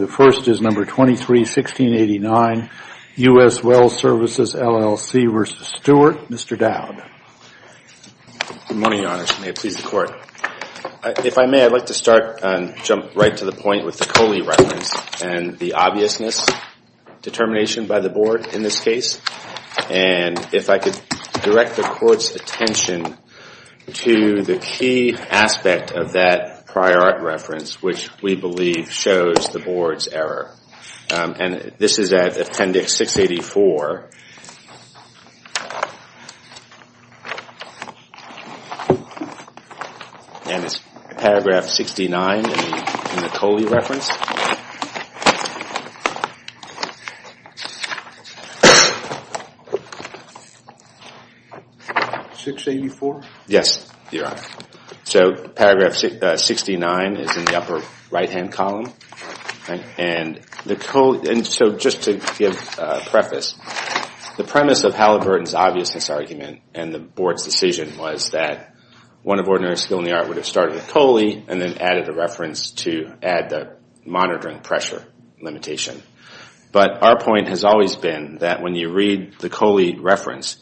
The first is No. 23-1689, U.S. Well Services, LLC v. Stewart. Mr. Dowd. Good morning, Your Honors. May it please the Court. If I may, I'd like to start and jump right to the point with the Coley reference and the obviousness determination by the Board in this case. And if I could direct the Court's attention to the key aspect of that prior art reference, which we believe shows the Board's error. And this is at Appendix 684, and it's Paragraph 69 in the Coley reference. 684? Yes, Your Honor. So Paragraph 69 is in the upper right-hand column. And so just to give preface, the premise of Halliburton's obviousness argument and the Board's decision was that one of ordinary skill in the art would have started with Coley and then added a reference to add the monitoring pressure limitation. But our point has always been that when you read the Coley reference,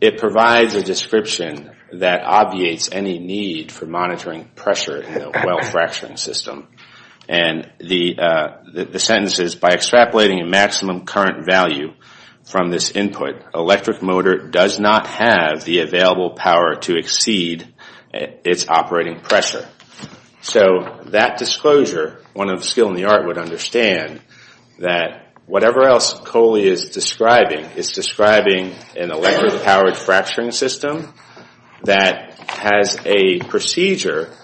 it provides a description that obviates any need for monitoring pressure in a well fracturing system. And the sentence is, by extrapolating a maximum current value from this input, electric motor does not have the available power to exceed its operating pressure. So that disclosure, one of the skill in the art would understand that whatever else Coley is describing is describing an electric-powered fracturing system that has a procedure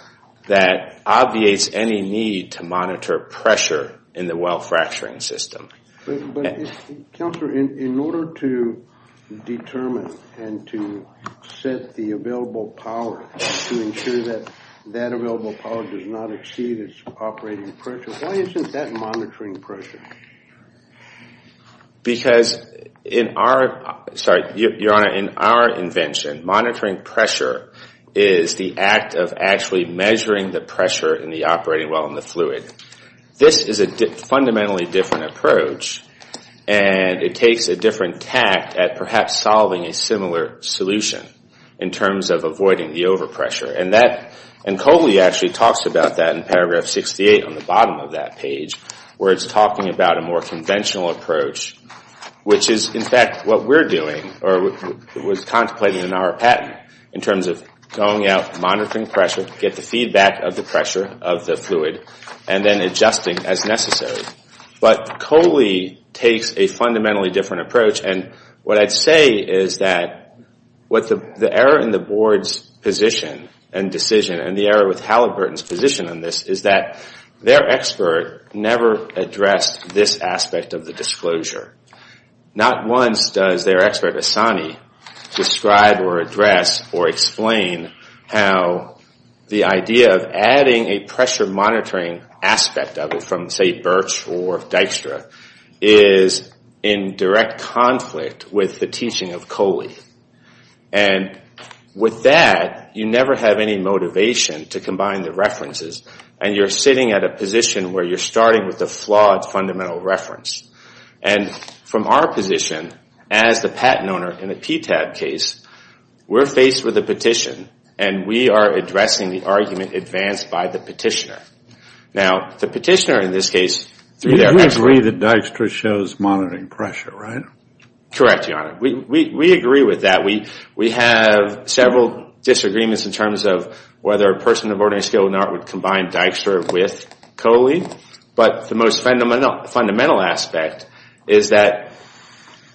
that obviates any need to monitor pressure in the well fracturing system. But Counselor, in order to determine and to set the available power to ensure that that available power does not exceed its operating pressure, why isn't that monitoring pressure? Because in our invention, monitoring pressure is the act of actually measuring the pressure in the operating well in the fluid. This is a fundamentally different approach, and it takes a different tact at perhaps solving a similar solution in terms of avoiding the overpressure. And Coley actually talks about that in paragraph 68 on the bottom of that page, where it's talking about a more conventional approach, which is in fact what we're doing, or was contemplated in our patent, in terms of going out, monitoring pressure, get the feedback of the pressure of the fluid, and then adjusting as necessary. But Coley takes a fundamentally different approach, and what I'd say is that the error in the board's position and decision, and the error with Halliburton's position on this, is that their expert never addressed this aspect of the disclosure. Not once does their expert, Assani, describe or address or explain how the idea of adding a pressure monitoring aspect of it, from say, Birch or Dykstra, is in direct conflict with the teaching of Coley. And with that, you never have any motivation to combine the references, and you're sitting at a position where you're starting with a flawed fundamental reference. And from our position, as the patent owner in a PTAB case, we're faced with a petition, and we are addressing the argument advanced by the petitioner. Now, the petitioner in this case, through their expert... You agree that Dykstra shows monitoring pressure, right? Correct, Your Honor. We agree with that. We have several disagreements in terms of whether a person of ordinary skill and art would combine Dykstra with Coley, but the most fundamental aspect is that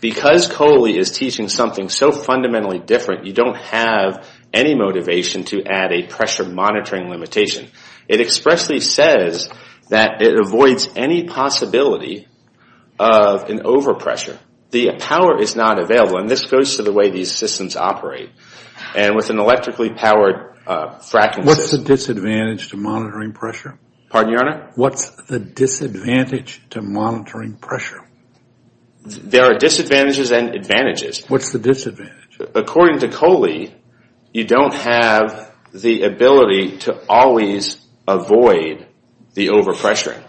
because Coley is teaching something so fundamentally different, you don't have any motivation to add a pressure monitoring limitation. It expressly says that it avoids any possibility of an overpressure. The power is not available, and this goes to the way these systems operate. And with an electrically powered fracking system... What's the disadvantage to monitoring pressure? Pardon, Your Honor? What's the disadvantage to monitoring pressure? There are disadvantages and advantages. What's the disadvantage? According to Coley, you don't have the ability to always avoid the overpressure.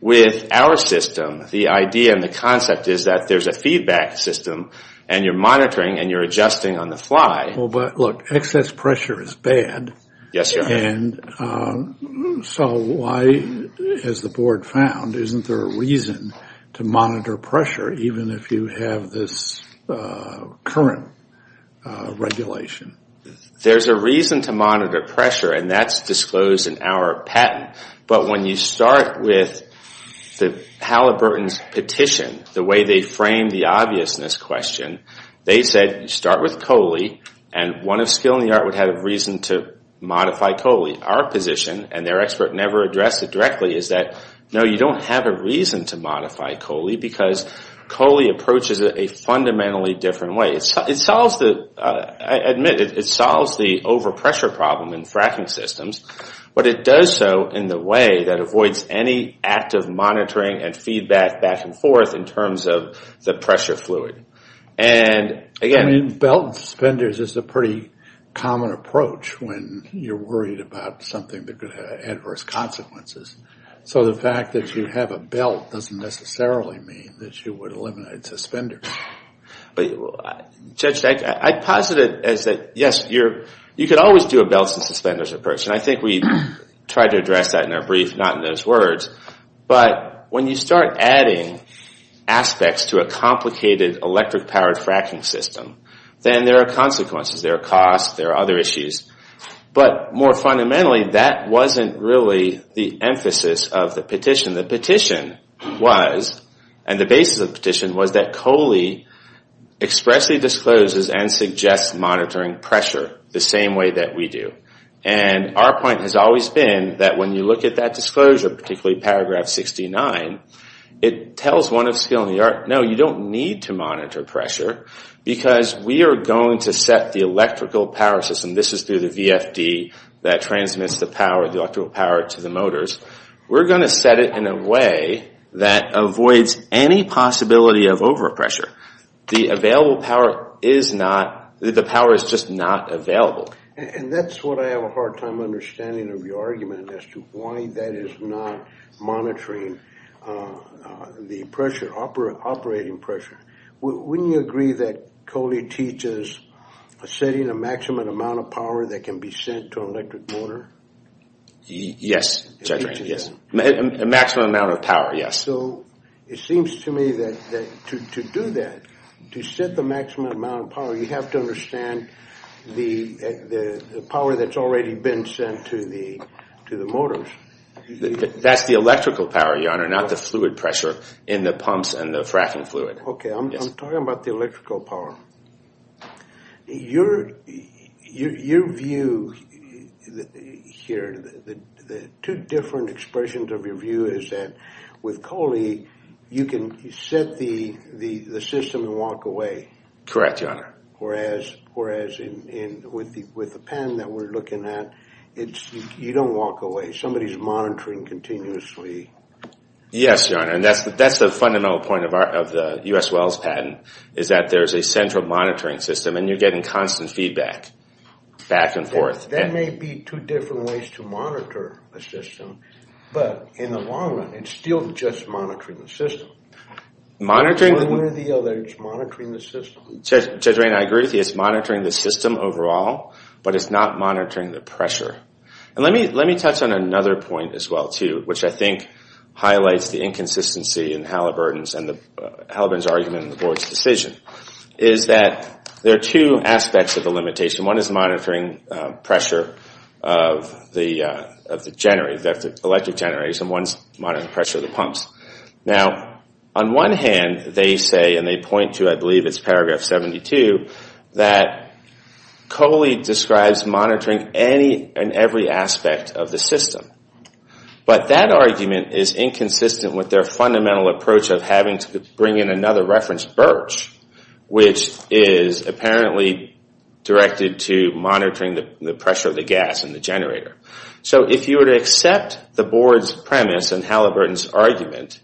With our system, the idea and the concept is that there's a feedback system and you're monitoring and you're adjusting on the fly. Well, but look, excess pressure is bad. Yes, Your Honor. And so why, as the board found, isn't there a reason to monitor pressure even if you have this current regulation? There's a reason to monitor pressure, and that's disclosed in our patent. But when you start with Halliburton's petition, the way they framed the obviousness question, they said you start with Coley, and one of skill and the art would have a reason to modify Coley. Our position, and their expert never addressed it directly, is that no, you don't have a reason to modify Coley because Coley approaches it a fundamentally different way. It solves the, I admit, it solves the overpressure problem in fracking systems, but it does so in the way that avoids any active monitoring and feedback back and forth in terms of the pressure fluid. And again... I mean, belt and suspenders is a pretty common approach when you're worried about something that could have adverse consequences. So the fact that you have a belt doesn't necessarily mean that you would eliminate suspenders. Judge, I posit it as that, yes, you could always do a belt and suspenders approach, and I think we tried to address that in our brief, not in those words. But when you start adding aspects to a complicated electric-powered fracking system, then there are consequences. There are costs. There are other issues. But more fundamentally, that wasn't really the emphasis of the petition. The petition was, and the basis of the petition, was that Coley expressly discloses and suggests monitoring pressure the same way that we do. And our point has always been that when you look at that disclosure, particularly paragraph 69, it tells one of skill in the art, no, you don't need to monitor pressure because we are going to set the electrical power system, and this is through the VFD that transmits the power, the electrical power to the motors. We're going to set it in a way that avoids any possibility of overpressure. The available power is not, the power is just not available. And that's what I have a hard time understanding of your argument as to why that is not monitoring the pressure, operating pressure. Wouldn't you agree that Coley teaches setting a maximum amount of power that can be sent to an electric motor? Yes, Judge Rainey, yes. A maximum amount of power, yes. So it seems to me that to do that, to set the maximum amount of power, you have to understand the power that's already been sent to the motors. That's the electrical power, Your Honor, not the fluid pressure in the pumps and the fracking fluid. Okay, I'm talking about the electrical power. Your view here, the two different expressions of your view is that with Coley, you can set the system and walk away. Correct, Your Honor. Whereas with the pen that we're looking at, you don't walk away. Somebody's monitoring continuously. Yes, Your Honor, and that's the fundamental point of the U.S. Wells patent is that there's a central monitoring system and you're getting constant feedback back and forth. There may be two different ways to monitor a system, but in the long run, it's still just monitoring the system. One way or the other, it's monitoring the system. Judge Rainey, I agree with you. It's monitoring the system overall, but it's not monitoring the pressure. And let me touch on another point as well, too, which I think highlights the inconsistency in Halliburton's argument and the board's decision, is that there are two aspects of the limitation. One is monitoring pressure of the electric generators and one's monitoring pressure of the pumps. Now, on one hand, they say, and they point to, I believe it's paragraph 72, that Coley describes monitoring any and every aspect of the system. But that argument is inconsistent with their fundamental approach of having to bring in another reference, Birch, which is apparently directed to monitoring the pressure of the gas in the generator. So if you were to accept the board's premise and Halliburton's argument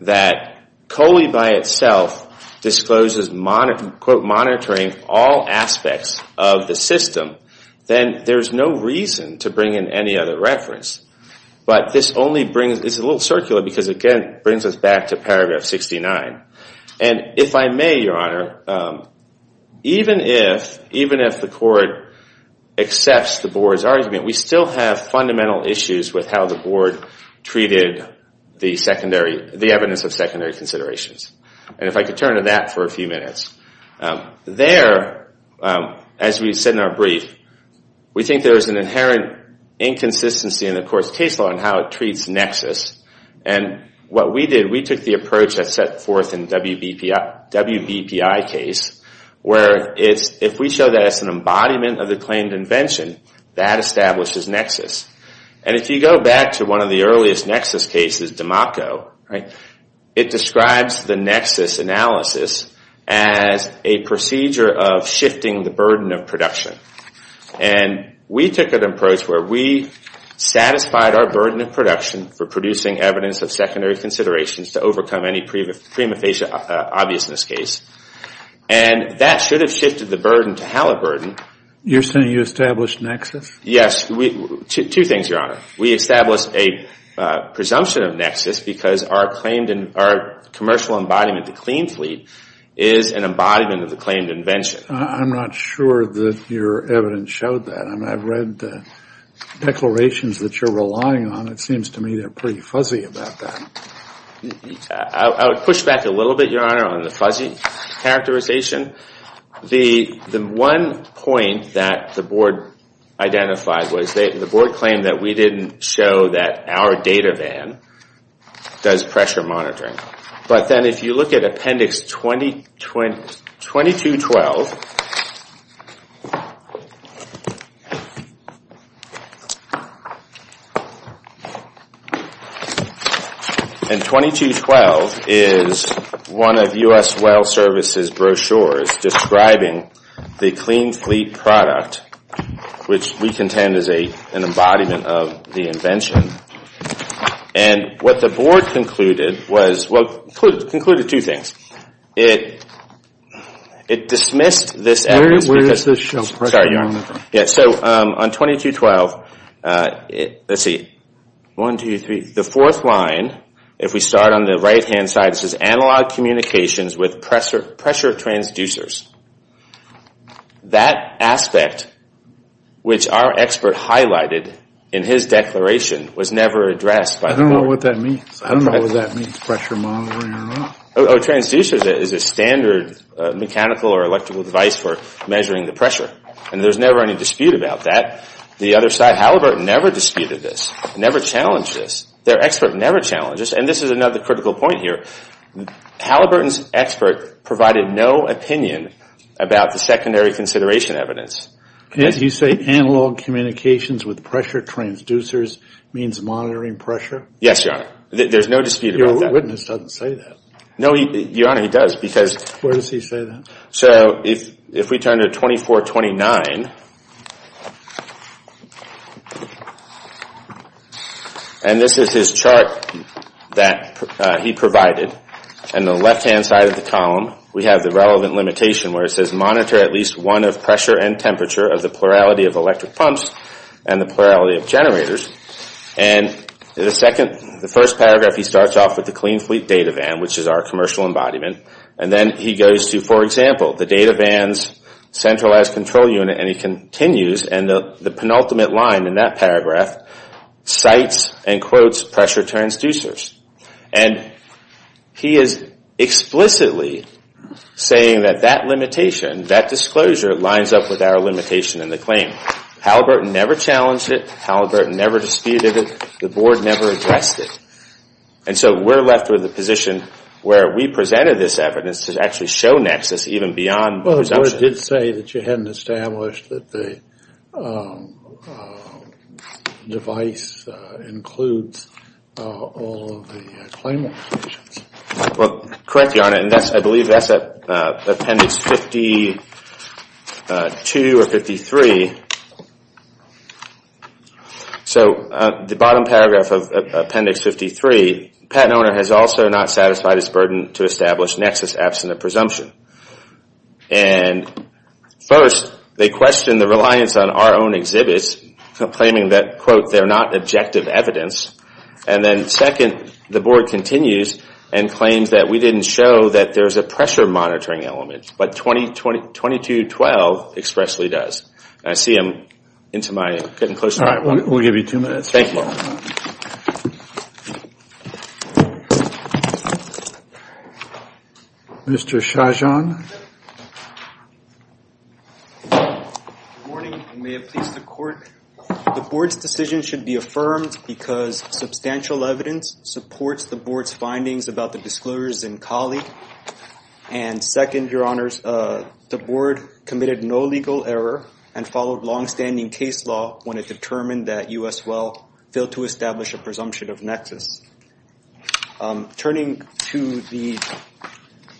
that Coley by itself discloses, quote, monitoring all aspects of the system, then there's no reason to bring in any other reference. But this only brings, it's a little circular because it brings us back to paragraph 69. And if I may, Your Honor, even if the court accepts the board's argument, we still have fundamental issues with how the board treated the evidence of secondary considerations. And if I could turn to that for a few minutes. There, as we said in our brief, we think there is an inherent inconsistency in the court's case law in how it treats nexus. And what we did, we took the approach that's set forth in the WBPI case, where if we show that it's an embodiment of the claimed invention, that establishes nexus. And if you go back to one of the earliest nexus cases, Damaco, it describes the nexus analysis as a procedure of shifting the burden of production. And we took an approach where we satisfied our burden of production for producing evidence of secondary considerations to overcome any prima facie obviousness case. And that should have shifted the burden to Halliburton. You're saying you established nexus? Yes. Two things, Your Honor. We established a presumption of nexus because our commercial embodiment, the clean fleet, is an embodiment of the claimed invention. I'm not sure that your evidence showed that. I've read declarations that you're relying on. It seems to me they're pretty fuzzy about that. I would push back a little bit, Your Honor, on the fuzzy characterization. The one point that the board identified was the board claimed that we didn't show that our data van does pressure monitoring. But then if you look at Appendix 2212, and 2212 is one of U.S. Well Services brochures describing the clean fleet product, which we contend is an embodiment of the invention. And what the board concluded was, well, concluded two things. It dismissed this evidence. Where does this show pressure? So on 2212, let's see. One, two, three. The fourth line, if we start on the right-hand side, this is analog communications with pressure transducers. That aspect, which our expert highlighted in his declaration, was never addressed by the board. I don't know what that means. I don't know what that means, pressure monitoring or not. Oh, transducers is a standard mechanical or electrical device for measuring the pressure. And there's never any dispute about that. The other side, Halliburton never disputed this, never challenged this. Their expert never challenged this. And this is another critical point here. Halliburton's expert provided no opinion about the secondary consideration evidence. You say analog communications with pressure transducers means monitoring pressure? Yes, Your Honor. There's no dispute about that. Your witness doesn't say that. No, Your Honor, he does because... Where does he say that? So if we turn to 2429... And this is his chart that he provided. On the left-hand side of the column, we have the relevant limitation where it says monitor at least one of pressure and temperature of the plurality of electric pumps and the plurality of generators. And the second, the first paragraph, he starts off with the clean fleet data van, which is our commercial embodiment. And then he goes to, for example, the data van's centralized control unit, and he continues to monitor and the penultimate line in that paragraph cites and quotes pressure transducers. And he is explicitly saying that that limitation, that disclosure, lines up with our limitation in the claim. Halliburton never challenged it. Halliburton never disputed it. The Board never addressed it. And so we're left with the position where we presented this evidence to actually show nexus even beyond presumption. Well, the Board did say that you hadn't established that the device includes all of the claim limitations. Well, correct, Your Honor, and I believe that's Appendix 52 or 53. So the bottom paragraph of Appendix 53, patent owner has also not satisfied his burden to establish nexus absent of presumption. And first, they question the reliance on our own exhibits, claiming that, quote, they're not objective evidence. And then second, the Board continues and claims that we didn't show that there's a pressure monitoring element, but 2212 expressly does. And I see him into my... All right, we'll give you two minutes. Thank you. Well... Mr. Shahjahan. Good morning, and may it please the Court. The Board's decision should be affirmed because substantial evidence supports the Board's findings about the disclosures in Cali. And second, Your Honors, the Board committed no legal error and followed longstanding case law when it determined that U.S. Well failed to establish a presumption of nexus. Turning to the...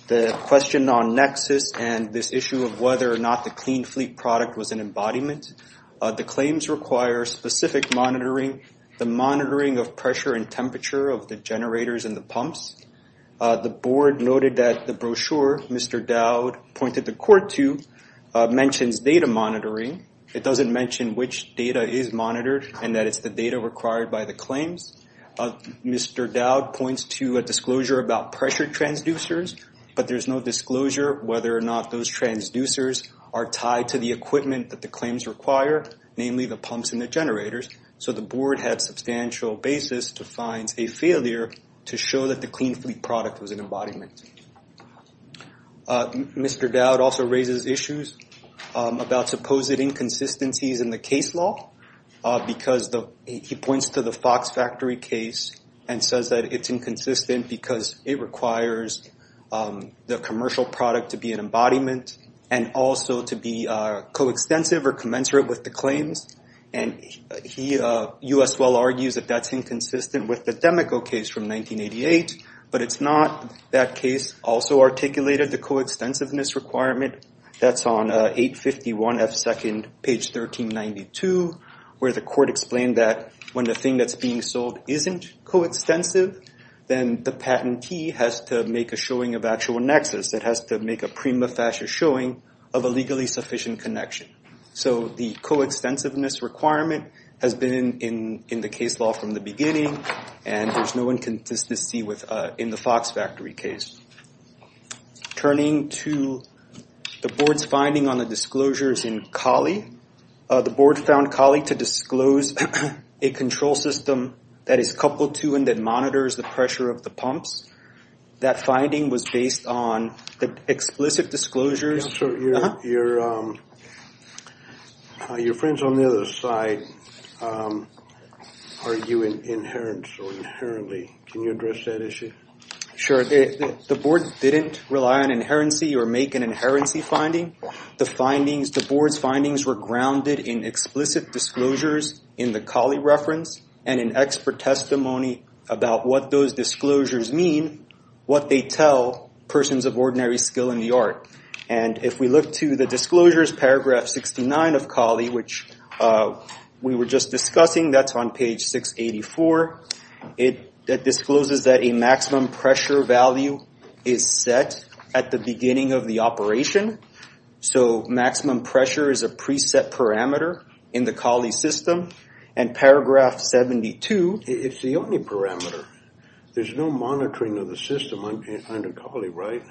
the question on nexus and this issue of whether or not the Clean Fleet product was an embodiment, the claims require specific monitoring, the monitoring of pressure and temperature of the generators and the pumps. The Board noted that the brochure Mr. Dowd pointed the Court to mentions data monitoring. It doesn't mention which data is monitored and that it's the data required by the claims. Mr. Dowd points to a disclosure about pressure transducers, but there's no disclosure whether or not those transducers are tied to the equipment that the claims require, namely the pumps and the generators. So the Board had substantial basis to find a failure to show that the Clean Fleet product was an embodiment. Mr. Dowd also raises issues about supposed inconsistencies in the case law because he points to the Fox Factory case and says that it's inconsistent because it requires the commercial product to be an embodiment and also to be coextensive or commensurate with the claims and U.S. Well argues that that's inconsistent with the Demico case from 1988, but it's not. That case also articulated the coextensiveness requirement that's on 851 F. 2nd, page 1392, where the court explained that when the thing that's being sold isn't coextensive, then the patentee has to make a showing of actual nexus. It has to make a prima facie showing of a legally sufficient connection. So the coextensiveness requirement has been in the case law from the beginning and there's no inconsistency in the Fox Factory case. Turning to the board's finding on the disclosures in Colley. The board found Colley to disclose a control system that is coupled to and that monitors the pressure of the pumps. That finding was based on the explicit disclosures. So your friends on the other side are you inherently can you address that issue? Sure. The board didn't rely on inherency or make an inherency finding. The board's findings were grounded in explicit disclosures in the Colley reference and in expert testimony about what those disclosures mean, what they tell persons of ordinary skill in the art. If we look to the disclosures, paragraph 69 of Colley, which we were just discussing, that's on page 684. It discloses that a maximum pressure value is set at the beginning of the operation. So maximum pressure is a preset parameter in the Colley system and paragraph 72 It's the only parameter. There's no monitoring of the system under Colley, right?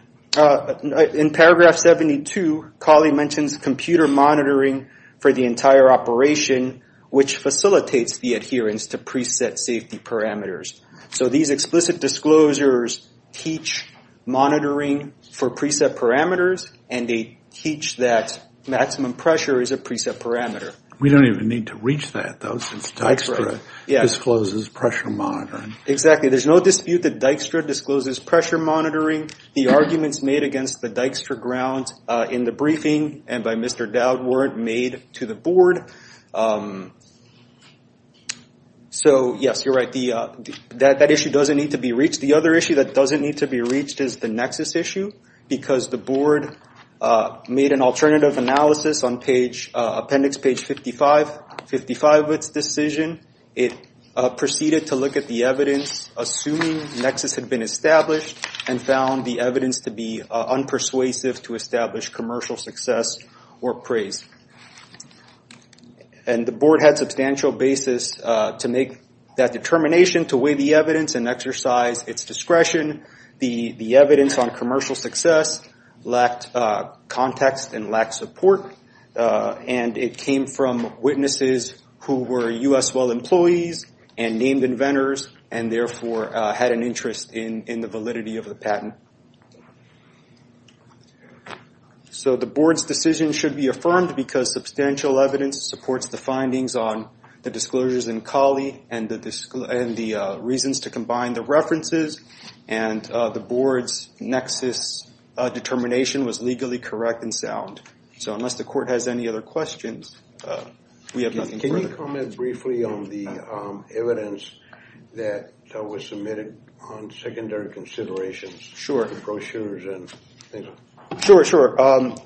In paragraph 72 Colley mentions computer monitoring for the entire operation which facilitates the adherence to preset safety parameters. So these explicit disclosures teach monitoring for preset parameters and they teach that maximum pressure is a preset parameter. We don't even need to reach that though since Dijkstra discloses pressure monitoring. Exactly. There's no dispute that Dijkstra discloses pressure monitoring. The arguments made against the Dijkstra grounds in the briefing and by Mr. Dowd weren't made to the board. So yes, you're right. That issue doesn't need to be reached. The other issue that doesn't need to be reached is the Nexus issue because the board made an alternative analysis on appendix page 55. 55 of its decision proceeded to look at the evidence assuming Nexus had been established and found the evidence to be unpersuasive to establish commercial success or praise. And the board had substantial basis to make that determination to weigh the evidence and exercise its discretion. The evidence on commercial success lacked context and lacked support and it came from witnesses who were U.S. Well employees and named inventors and therefore had an interest in the validity of the patent. So the board's decision should be affirmed because substantial evidence supports the findings on the disclosures in Collie and the reasons to combine the references and the board's Nexus determination was legally correct and sound. So unless the court has any other questions we have nothing further. Can you comment briefly on the evidence that was submitted on secondary considerations? Sure. The brochures and Sure.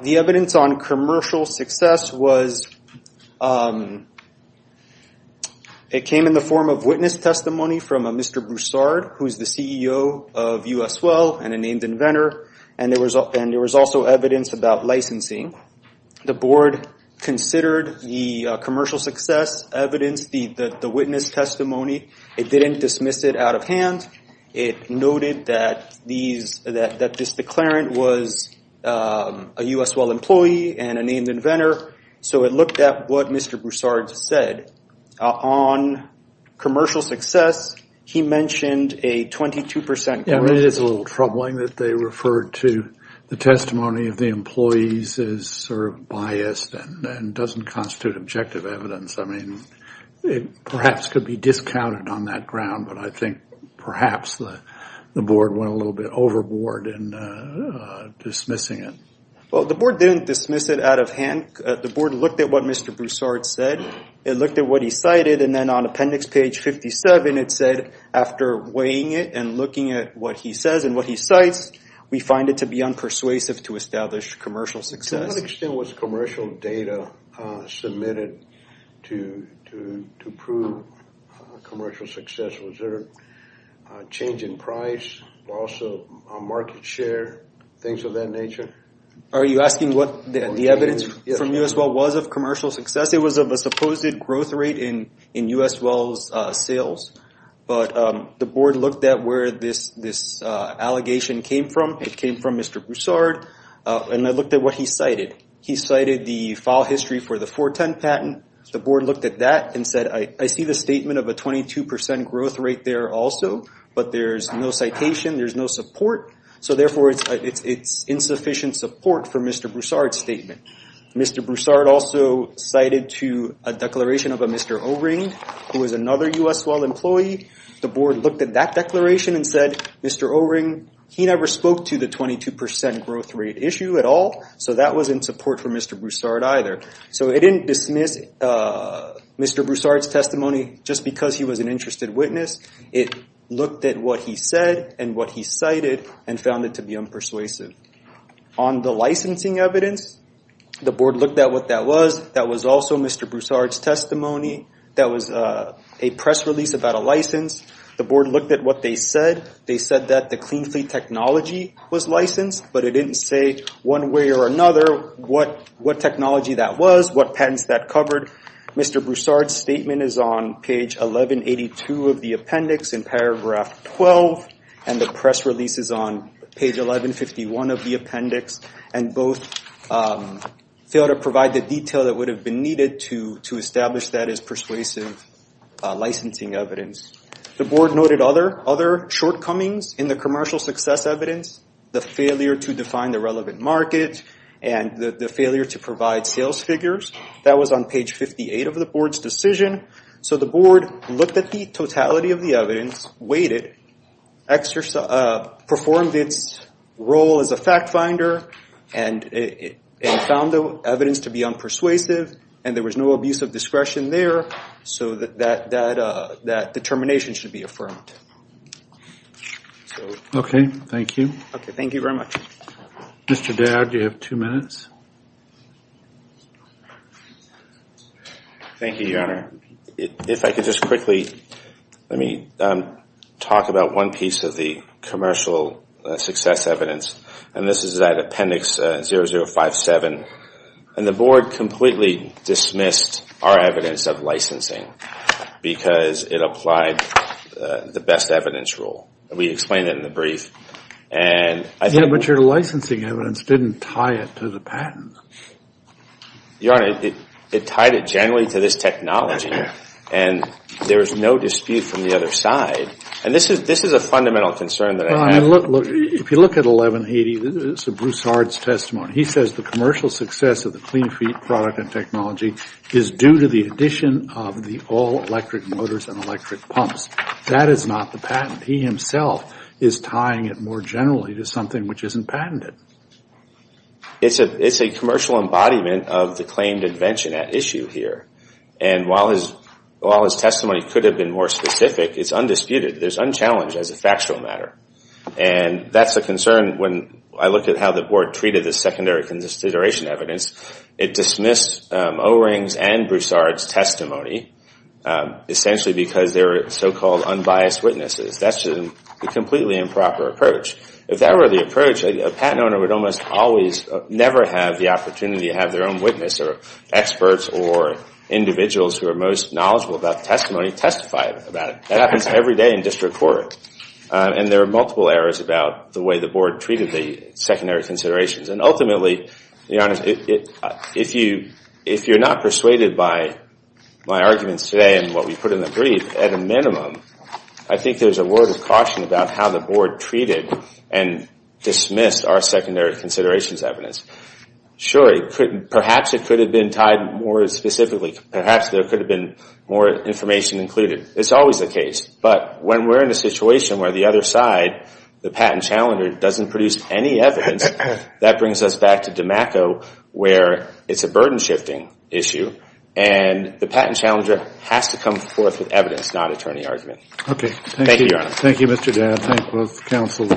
The evidence on commercial success was it came in the form of witness testimony from Mr. Broussard who is the CEO of U.S. Well and a named inventor and there was also evidence about licensing. The board considered the commercial success evidence, the witness testimony it didn't dismiss it out of hand it noted that that this declarant was a U.S. Well employee and a named inventor so it looked at what Mr. Broussard said. On commercial success he mentioned a 22 percent correlation. It is a little troubling that they referred to the testimony of the employees as sort of biased and doesn't constitute objective evidence. I mean it perhaps could be discounted on that ground but I think perhaps the board went a little bit overboard in dismissing it. Well the board didn't dismiss it out of hand. The board looked at what Mr. Broussard said it looked at what he cited and then on appendix page 57 it said after weighing it and looking at what he says and what he cites we find it to be unpersuasive to establish commercial success. To what extent was commercial data submitted to prove commercial success? Was there change in price, loss of market share, things of that nature? Are you asking what the evidence from U.S. Well was of commercial success? It was of a supposed growth rate in U.S. Well's sales but the board looked at where this allegation came from. It came from Mr. Broussard and I looked at what he cited. He cited the file history for the 410 patent the board looked at that and said I see the statement of a 22% growth rate there also but there's no citation, there's no support so therefore it's insufficient support for Mr. Broussard's statement. Mr. Broussard also cited to a declaration of a Mr. O'Ring who was another U.S. Well employee. The board looked at that declaration and said Mr. O'Ring, he never spoke to the 22% growth rate issue at all so that wasn't support for Mr. Broussard either. So it didn't dismiss Mr. Broussard's testimony just because he was an interested witness it looked at what he said and what he cited and found it to be unpersuasive. On the licensing evidence the board looked at what that was that was also Mr. Broussard's testimony that was a press release about a license. The board looked at what they said. They said that the clean fleet technology was licensed but it didn't say one way or another what technology that was, what patents that covered. Mr. Broussard's statement is on page 1182 of the appendix in paragraph 12 and the press release is on page 1151 of the appendix and both failed to provide the detail that would have been needed to establish that as persuasive licensing evidence. The board noted other shortcomings in the commercial success evidence. The failure to define the relevant market and the failure to provide sales figures. That was on page 58 of the board's decision. So the board looked at the totality of the evidence, weighed it, performed its role as a fact finder and found the evidence to be unpersuasive and there was no abuse of discretion there so that determination should be affirmed. Okay, thank you. Okay, thank you very much. Mr. Dowd, you have two minutes. Thank you, Your Honor. If I could just quickly talk about one piece of the commercial success evidence and this is that appendix 0057 and the board completely dismissed our evidence of licensing because it applied the best evidence rule. We explained it in the brief. But your licensing evidence didn't tie it to the patent. Your Honor, it tied it generally to this technology and there is no dispute from the other side and this is a fundamental concern that I have. If you look at 1180, this is Bruce Hard's testimony. He says the commercial success of the Clean Feet product and technology is due to the addition of the all electric motors and electric pumps. That is not the patent. He himself is tying it more generally to something which isn't patented. It's a commercial embodiment of the claimed invention at issue here and while his testimony could have been more specific, it's undisputed. It's unchallenged as a factual matter and that's a concern when I look at how the board treated the secondary consideration evidence. It dismissed O-Rings and Bruce Hard's testimony essentially because they were so-called unbiased witnesses. That's a completely improper approach. If that were the approach, a patent owner would almost always never have the opportunity to have their own witness or experts or individuals who are most knowledgeable about the testimony testify about it. That happens every day in district court and there are multiple errors about the way the board treated the secondary considerations and ultimately, Your Honor, if you're not persuaded by my arguments today and what we put in the brief, at a minimum I think there's a word of caution about how the board treated and dismissed our secondary considerations evidence. Sure, perhaps it could have been tied more specifically. Perhaps there could have been more information included. It's always the case, but when we're in a situation where the other side the patent challenger doesn't produce any evidence, that brings us back to DeMacco where it's a burden shifting issue and the patent challenger has to come forth with evidence, not attorney argument. Thank you, Your Honor. Thank you, Mr. Dabb. Thank both counsel.